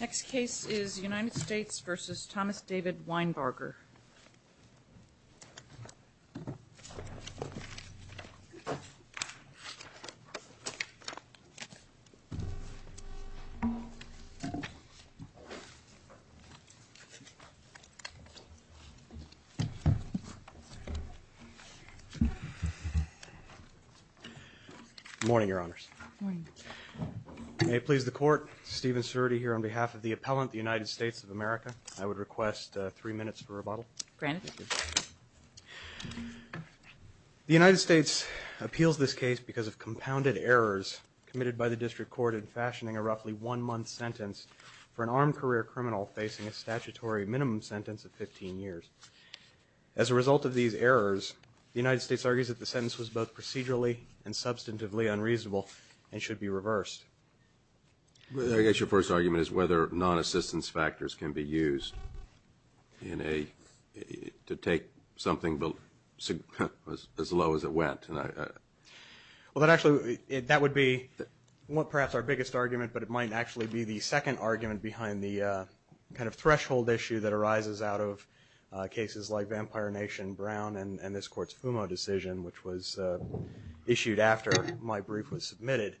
Next case is United States v. Thomas David Winebarger. Good morning, Your Honors. Good morning. May it please the Court, Stephen Serti here on behalf of the appellant, the United States of America. I would request three minutes for rebuttal. Granted. Thank you. The United States appeals this case because of compounded errors committed by the district court in fashioning a roughly one-month sentence for an armed career criminal facing a statutory minimum sentence of 15 years. As a result of these errors, the United States argues that the sentence was both procedurally and substantively unreasonable and should be reversed. I guess your first argument is whether non-assistance factors can be used to take something as low as it went. Well, actually, that would be perhaps our biggest argument, but it might actually be the second argument behind the kind of threshold issue that arises out of cases like Vampire Nation Brown and this Court's Fumo decision, which was issued after my brief was submitted.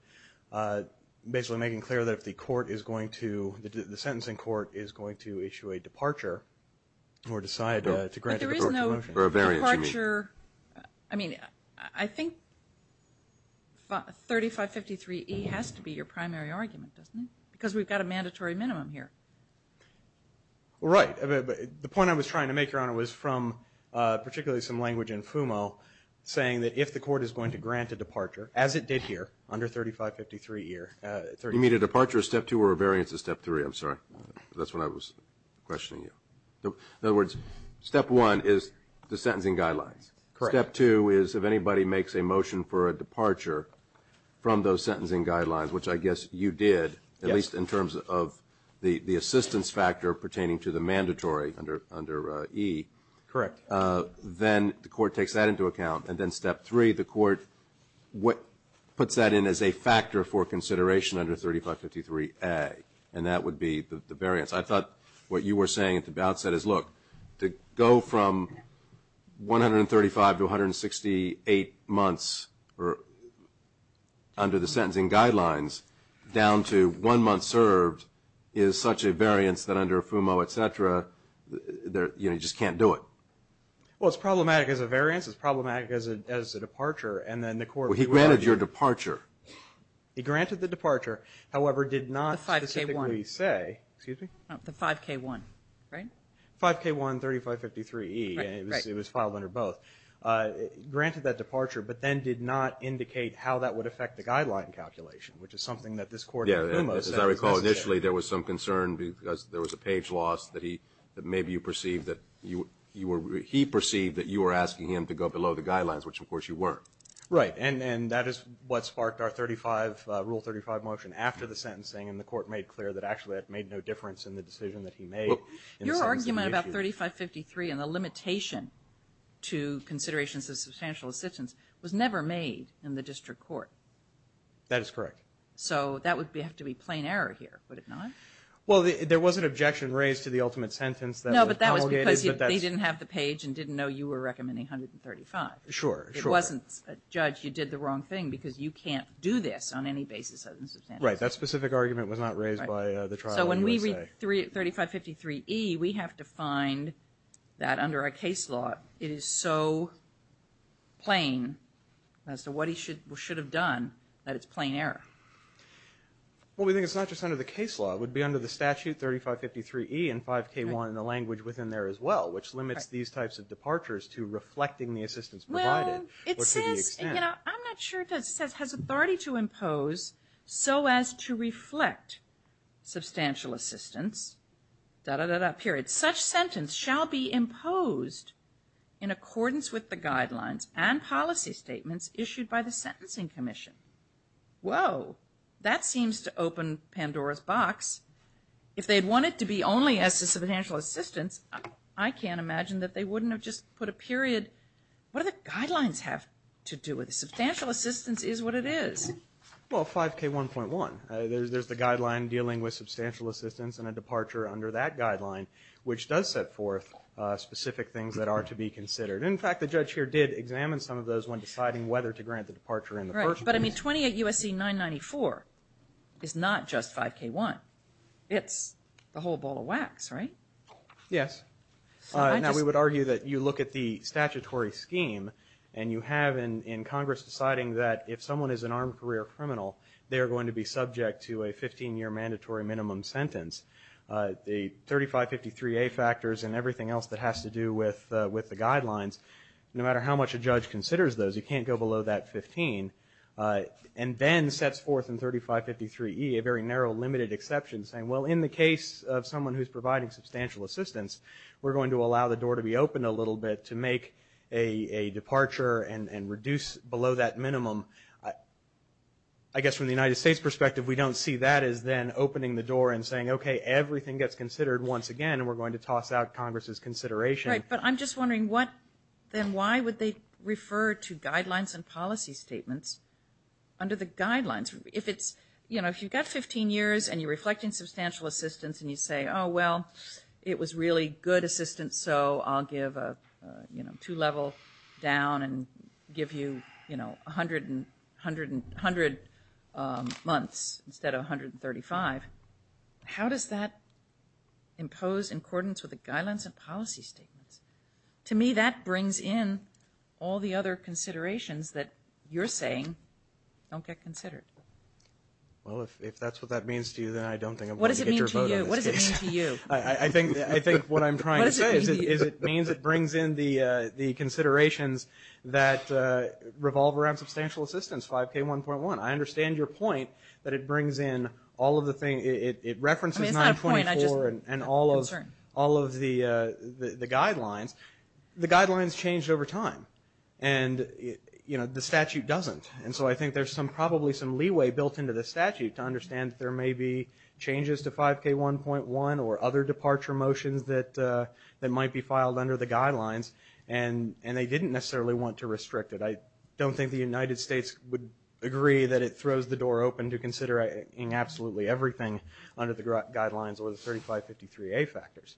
Basically making clear that if the court is going to, the sentencing court is going to issue a departure or decide to grant a departure motion. But there is no departure. I mean, I think 3553E has to be your primary argument, doesn't it? Because we've got a mandatory minimum here. Right. The point I was trying to make, Your Honor, was from particularly some language in Fumo saying that if the court is going to grant a departure, as it did here under 3553E. You mean a departure of Step 2 or a variance of Step 3? I'm sorry. That's what I was questioning you. In other words, Step 1 is the sentencing guidelines. Correct. Step 2 is if anybody makes a motion for a departure from those sentencing guidelines, which I guess you did, at least in terms of the assistance factor pertaining to the mandatory under E. Correct. Then the court takes that into account. And then Step 3, the court puts that in as a factor for consideration under 3553A. And that would be the variance. I thought what you were saying at the outset is, look, to go from 135 to 168 months under the sentencing guidelines down to one month served is such a variance that under Fumo, et cetera, you just can't do it. Well, it's problematic as a variance. It's problematic as a departure. Well, he granted your departure. He granted the departure, however, did not specifically say, excuse me? The 5K1, right? 5K1, 3553E. It was filed under both. Granted that departure, but then did not indicate how that would affect the guideline calculation, which is something that this court in Fumo said was necessary. Initially, there was some concern because there was a page loss that he, that maybe you perceived that you were, he perceived that you were asking him to go below the guidelines, which, of course, you weren't. Right. And that is what sparked our 35, Rule 35 motion after the sentencing, and the court made clear that actually it made no difference in the decision that he made. Your argument about 3553 and the limitation to considerations of substantial assistance was never made in the district court. That is correct. So that would have to be plain error here, would it not? Well, there was an objection raised to the ultimate sentence that was promulgated. No, but that was because they didn't have the page and didn't know you were recommending 135. Sure, sure. It wasn't, Judge, you did the wrong thing because you can't do this on any basis other than substantial assistance. Right. That specific argument was not raised by the trial, I would say. So when we read 3553E, we have to find that under our case law, it is so plain as to what he should have done that it's plain error. Well, we think it's not just under the case law. It would be under the statute, 3553E and 5K1 in the language within there as well, which limits these types of departures to reflecting the assistance provided. Well, it says, you know, I'm not sure it does. It says, has authority to impose so as to reflect substantial assistance, da-da-da-da, period. Such sentence shall be imposed in accordance with the guidelines and policy statements issued by the Sentencing Commission. Whoa, that seems to open Pandora's box. If they'd want it to be only as to substantial assistance, I can't imagine that they wouldn't have just put a period. What do the guidelines have to do with it? Substantial assistance is what it is. Well, 5K1.1, there's the guideline dealing with substantial assistance and a departure under that guideline, which does set forth specific things that are to be considered. And, in fact, the judge here did examine some of those when deciding whether to grant the departure in the first place. But, I mean, 28 U.S.C. 994 is not just 5K1. It's the whole ball of wax, right? Yes. Now, we would argue that you look at the statutory scheme, and you have in Congress deciding that if someone is an armed career criminal, they are going to be subject to a 15-year mandatory minimum sentence. The 3553A factors and everything else that has to do with the guidelines, no matter how much a judge considers those, you can't go below that 15, and then sets forth in 3553E a very narrow limited exception saying, well, in the case of someone who's providing substantial assistance, we're going to allow the door to be opened a little bit to make a departure and reduce below that minimum. I guess from the United States perspective, we don't see that as then opening the door and saying, okay, everything gets considered once again, and we're going to toss out Congress's consideration. Right, but I'm just wondering what, then why would they refer to guidelines and policy statements under the guidelines? If it's, you know, if you've got 15 years, and you're reflecting substantial assistance, and you say, oh, well, it was really good assistance, so I'll give a two-level down and give you, you know, 100 months instead of 135. How does that impose in accordance with the guidelines and policy statements? To me, that brings in all the other considerations that you're saying don't get considered. Well, if that's what that means to you, then I don't think I'm going to get your vote on this case. What does it mean to you? I think what I'm trying to say is it means it brings in the considerations that revolve around substantial assistance, 5K1.1. I understand your point that it brings in all of the things. It references 924 and all of the guidelines. The guidelines change over time, and, you know, the statute doesn't. And so I think there's probably some leeway built into the statute to understand that there may be changes to 5K1.1 or other departure motions that might be filed under the guidelines, and they didn't necessarily want to restrict it. I don't think the United States would agree that it throws the door open to considering absolutely everything under the guidelines or the 3553A factors.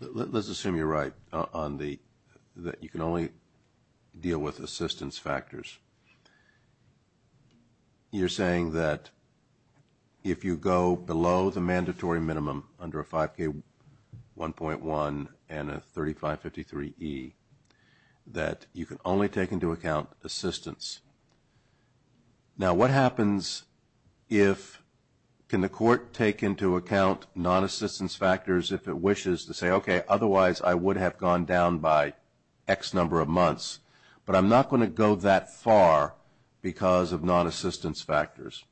Let's assume you're right that you can only deal with assistance factors. You're saying that if you go below the mandatory minimum under a 5K1.1 and a 3553E, that you can only take into account assistance. Now, what happens if, can the court take into account non-assistance factors if it wishes to say, okay, otherwise I would have gone down by X number of months, but I'm not going to go that far because of non-assistance factors?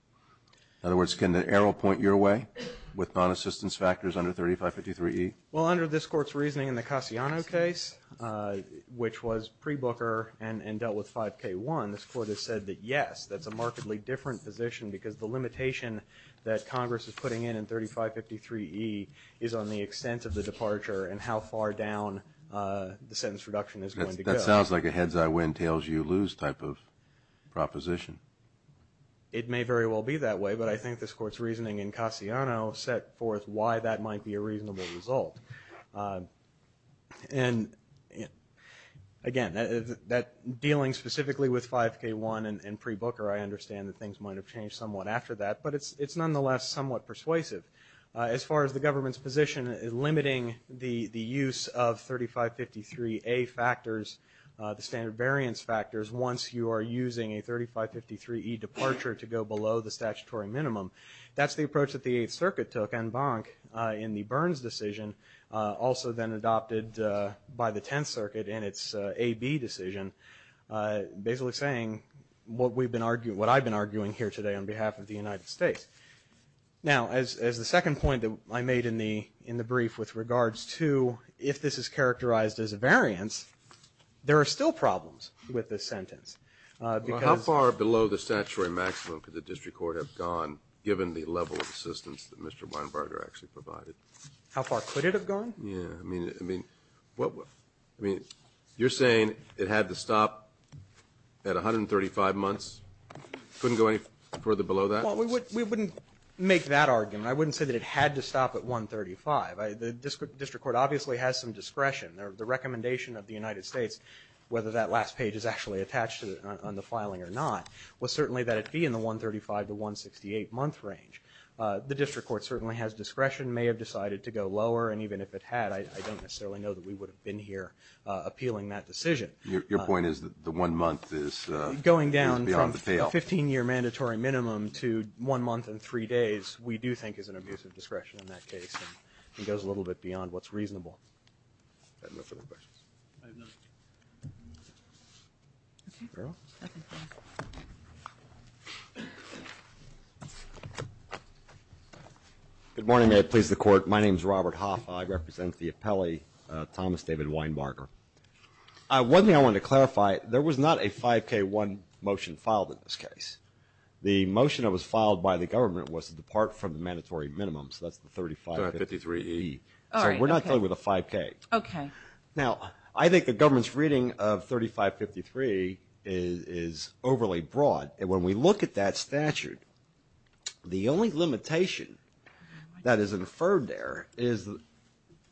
In other words, can the arrow point your way with non-assistance factors under 3553E? Well, under this Court's reasoning in the Cassiano case, which was pre-Booker and dealt with 5K1, this Court has said that, yes, that's a markedly different position because the limitation that Congress is putting in in 3553E is on the extent of the departure and how far down the sentence reduction is going to go. That sounds like a heads-I-win-tails-you-lose type of proposition. It may very well be that way, but I think this Court's reasoning in Cassiano set forth why that might be a reasonable result. And, again, dealing specifically with 5K1 and pre-Booker, I understand that things might have changed somewhat after that, but it's nonetheless somewhat persuasive. As far as the government's position limiting the use of 3553A factors, the standard variance factors, once you are using a 3553E departure to go below the statutory minimum, that's the approach that the Eighth Circuit took en banc in the Burns decision, also then adopted by the Tenth Circuit in its AB decision, basically saying what I've been arguing here today on behalf of the United States. Now, as the second point that I made in the brief with regards to if this is characterized as a variance, there are still problems with this sentence. Well, how far below the statutory maximum could the district court have gone given the level of assistance that Mr. Weinbarger actually provided? How far could it have gone? Yeah. I mean, you're saying it had to stop at 135 months? Couldn't go any further below that? Well, we wouldn't make that argument. I wouldn't say that it had to stop at 135. The district court obviously has some discretion. The recommendation of the United States, whether that last page is actually attached on the filing or not, was certainly that it be in the 135 to 168-month range. The district court certainly has discretion, may have decided to go lower, and even if it had, I don't necessarily know that we would have been here appealing that decision. Your point is that the one month is beyond the pale? The 15-year mandatory minimum to one month and three days, we do think is an abuse of discretion in that case. It goes a little bit beyond what's reasonable. I have no further questions. I have nothing. No? Nothing. Good morning. May it please the Court. My name is Robert Hoff. I represent the appellee, Thomas David Weinbarger. One thing I wanted to clarify, there was not a 5K1 motion filed in this case. The motion that was filed by the government was to depart from the mandatory minimum, so that's the 3553E. All right. So we're not dealing with a 5K. Okay. Now, I think the government's reading of 3553 is overly broad, and when we look at that statute, the only limitation that is inferred there is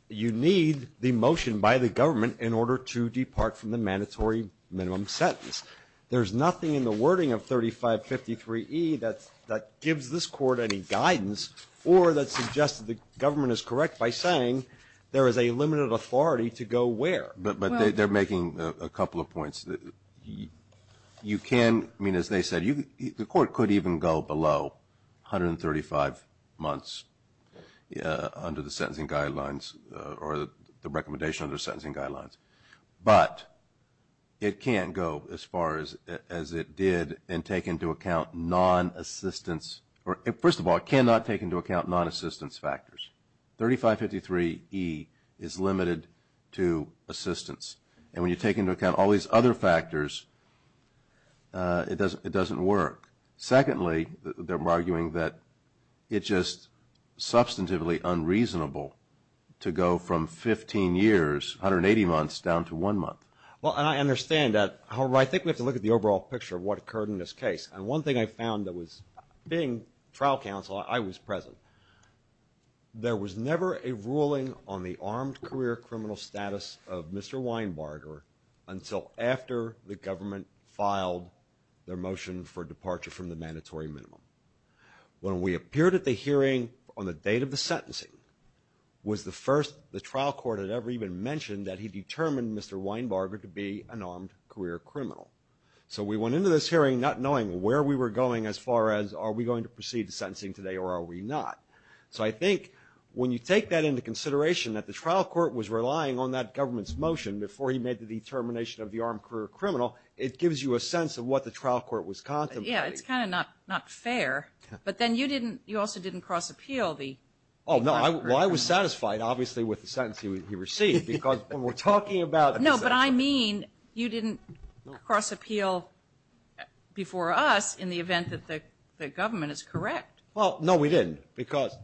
you need the motion by the government in order to depart from the mandatory minimum sentence. There's nothing in the wording of 3553E that gives this Court any guidance or that suggests that the government is correct by saying there is a limited authority to go where. But they're making a couple of points. You can, I mean, as they said, the Court could even go below 135 months under the sentencing guidelines or the recommendation under the sentencing guidelines. But it can't go as far as it did and take into account non-assistance. First of all, it cannot take into account non-assistance factors. 3553E is limited to assistance. And when you take into account all these other factors, it doesn't work. Secondly, they're arguing that it's just substantively unreasonable to go from 15 years, 180 months, down to one month. Well, and I understand that. However, I think we have to look at the overall picture of what occurred in this case. And one thing I found that was, being trial counsel, I was present. There was never a ruling on the armed career criminal status of Mr. Weinbarger until after the government filed their motion for departure from the mandatory minimum. When we appeared at the hearing on the date of the sentencing, was the first the trial court had ever even mentioned that he determined Mr. Weinbarger to be an armed career criminal. So we went into this hearing not knowing where we were going as far as are we going to proceed to sentencing today or are we not. So I think when you take that into consideration, that the trial court was relying on that government's motion before he made the determination of the armed career criminal, it gives you a sense of what the trial court was contemplating. Yeah, it's kind of not fair. But then you also didn't cross-appeal the armed career criminal. Oh, no. Well, I was satisfied, obviously, with the sentence he received. No, but I mean you didn't cross-appeal before us in the event that the government is correct. Well, no, we didn't. Because,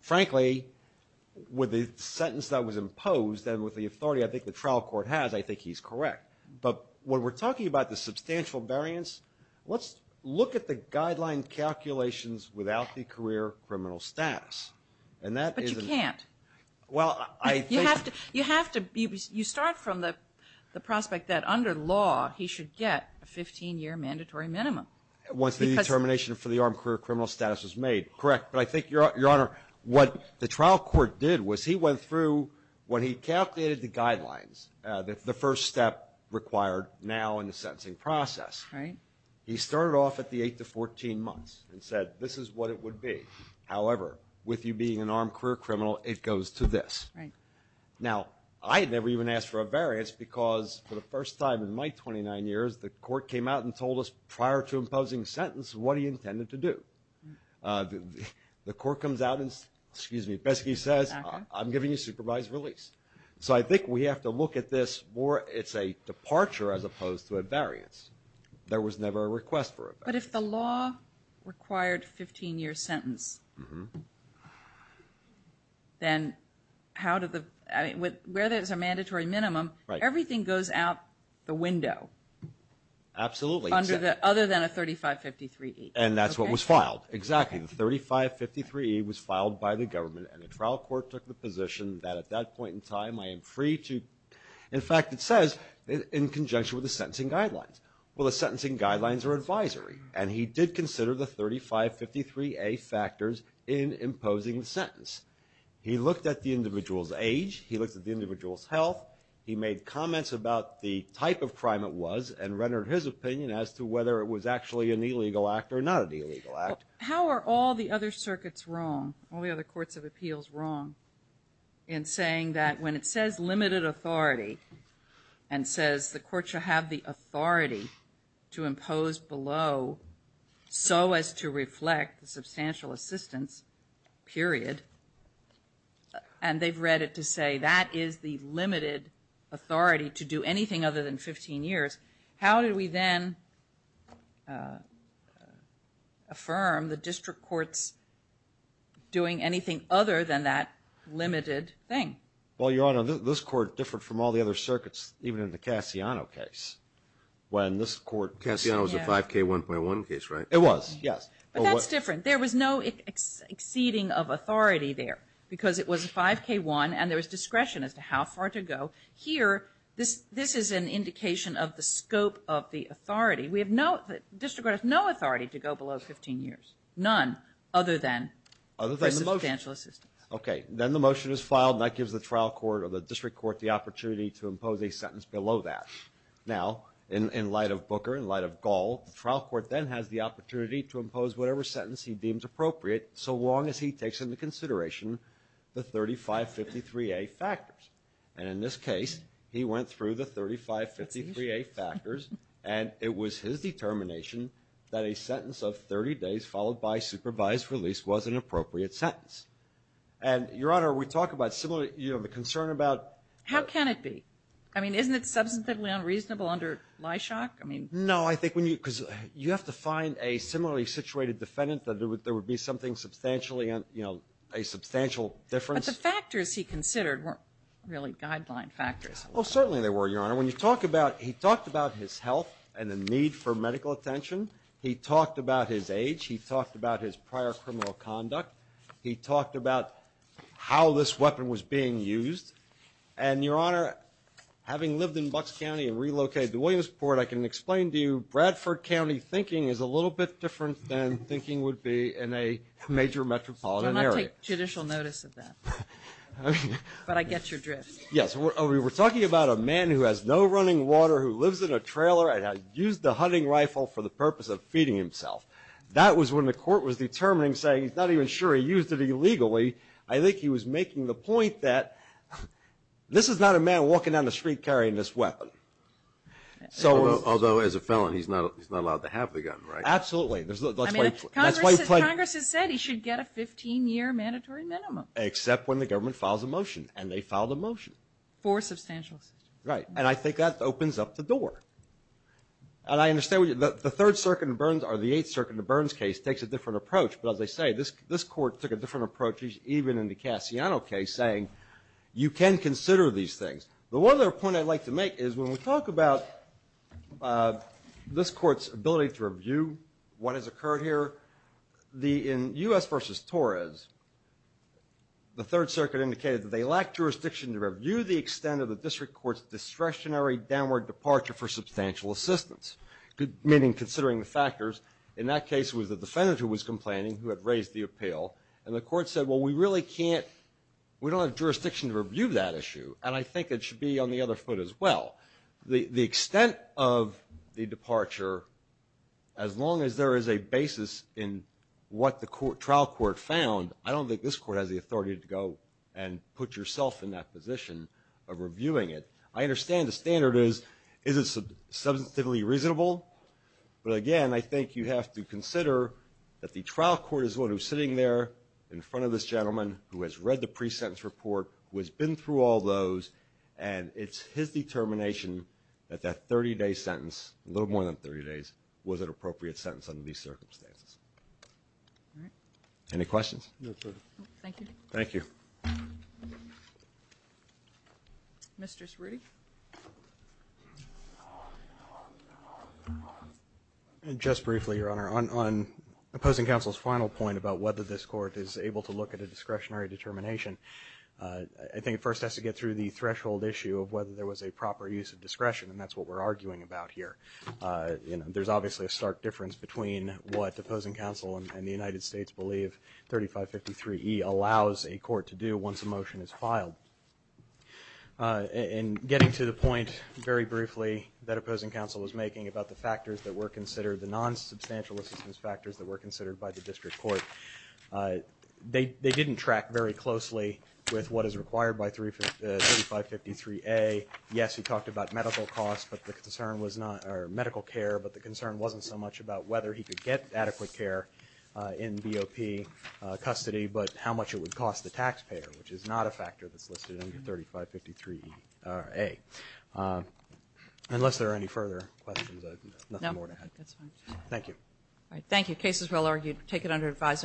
frankly, with the sentence that was imposed and with the authority, I think, the trial court has, I think he's correct. But when we're talking about the substantial variance, let's look at the guideline calculations without the career criminal status. But you can't. Well, I think you have to. You start from the prospect that under law he should get a 15-year mandatory minimum. Once the determination for the armed career criminal status is made, correct. But I think, Your Honor, what the trial court did was he went through, when he calculated the guidelines, the first step required now in the sentencing process, he started off at the 8 to 14 months and said, this is what it would be. However, with you being an armed career criminal, it goes to this. Now, I never even asked for a variance because for the first time in my 29 years, the court came out and told us prior to imposing the sentence what he intended to do. The court comes out and, excuse me, basically says, I'm giving you supervised release. So I think we have to look at this more, it's a departure as opposed to a variance. There was never a request for a variance. But if the law required 15-year sentence, then how did the, I mean, where there's a mandatory minimum, everything goes out the window. Absolutely. Other than a 3553E. And that's what was filed. Exactly. The 3553E was filed by the government and the trial court took the position that at that point in time, I am free to, in fact, it says, in conjunction with the sentencing guidelines. Well, the sentencing guidelines are advisory. And he did consider the 3553A factors in imposing the sentence. He looked at the individual's age. He looked at the individual's health. He made comments about the type of crime it was and rendered his opinion as to whether it was actually an illegal act or not an illegal act. How are all the other circuits wrong, all the other courts of appeals wrong in saying that when it says limited authority and says the court should have the authority to impose below so as to reflect the substantial assistance, period, and they've read it to say that is the limited authority to do anything other than 15 years. How do we then affirm the district courts doing anything other than that limited thing? Well, Your Honor, this court, different from all the other circuits, even in the Cassiano case, when this court. Cassiano was a 5K1.1 case, right? It was, yes. But that's different. There was no exceeding of authority there because it was a 5K1 and there was discretion as to how far to go. Here, this is an indication of the scope of the authority. The district court has no authority to go below 15 years, none, other than for substantial assistance. Okay. Then the motion is filed and that gives the trial court or the district court the opportunity to impose a sentence below that. Now, in light of Booker, in light of Gall, the trial court then has the opportunity to impose whatever sentence he deems appropriate so long as he takes into consideration the 3553A factors. And in this case, he went through the 3553A factors and it was his determination that a sentence of 30 days followed by supervised release was an appropriate sentence. And, Your Honor, we talk about similar, you know, the concern about How can it be? I mean, isn't it substantively unreasonable under Lyshock? I mean No, I think when you, because you have to find a similarly situated defendant that there would be something substantially, you know, a substantial difference. But the factors he considered weren't really guideline factors. Well, certainly they were, Your Honor. When you talk about, he talked about his health and the need for medical attention. He talked about his age. He talked about his prior criminal conduct. He talked about how this weapon was being used. And, Your Honor, having lived in Bucks County and relocated to Williamsport, I can explain to you Bradford County thinking is a little bit different than thinking would be in a major metropolitan area. I don't take judicial notice of that. But I get your drift. Yes. We were talking about a man who has no running water, who lives in a trailer, and has used the hunting rifle for the purpose of feeding himself. That was when the court was determining, saying he's not even sure he used it illegally. I think he was making the point that this is not a man walking down the street carrying this weapon. Although, as a felon, he's not allowed to have the gun, right? Absolutely. Congress has said he should get a 15-year mandatory minimum. Except when the government files a motion, and they filed a motion. For substantial assistance. Right. And I think that opens up the door. And I understand the Third Circuit in Burns or the Eighth Circuit in Burns case takes a different approach. But, as I say, this court took a different approach even in the Cassiano case, saying you can consider these things. The other point I'd like to make is when we talk about this court's ability to review what has occurred here, in U.S. versus Torres, the Third Circuit indicated that they lacked jurisdiction to review the extent of the district court's discretionary downward departure for substantial assistance. Meaning, considering the factors. In that case, it was the defendant who was complaining, who had raised the appeal. And the court said, well, we really can't, we don't have jurisdiction to review that issue. And I think it should be on the other foot as well. The extent of the departure, as long as there is a basis in what the trial court found, I don't think this court has the authority to go and put yourself in that position of reviewing it. I understand the standard is, is it substantively reasonable? But, again, I think you have to consider that the trial court is the one who's sitting there in front of this gentleman who has read the pre-sentence report, who has been through all those, and it's his determination that that 30-day sentence, a little more than 30 days, was an appropriate sentence under these circumstances. All right. Any questions? No, sir. Thank you. Thank you. Mr. Srudde? Just briefly, Your Honor. On opposing counsel's final point about whether this court is able to look at a discretionary determination, I think it first has to get through the threshold issue of whether there was a proper use of discretion, and that's what we're arguing about here. There's obviously a stark difference between what opposing counsel and the United States believe 3553E allows a court to do once a motion is filed. In getting to the point very briefly that opposing counsel was making about the factors that were considered, the non-substantial assistance factors that were considered by the district court, they didn't track very closely with what is required by 3553A. Yes, he talked about medical costs, but the concern was not, or medical care, but the concern wasn't so much about whether he could get adequate care in BOP custody, but how much it would cost the taxpayer, which is not a factor that's listed under 3553A. Unless there are any further questions, I have nothing more to add. No, that's fine. Thank you. All right. Thank you. Case is well argued. Take it under advisement.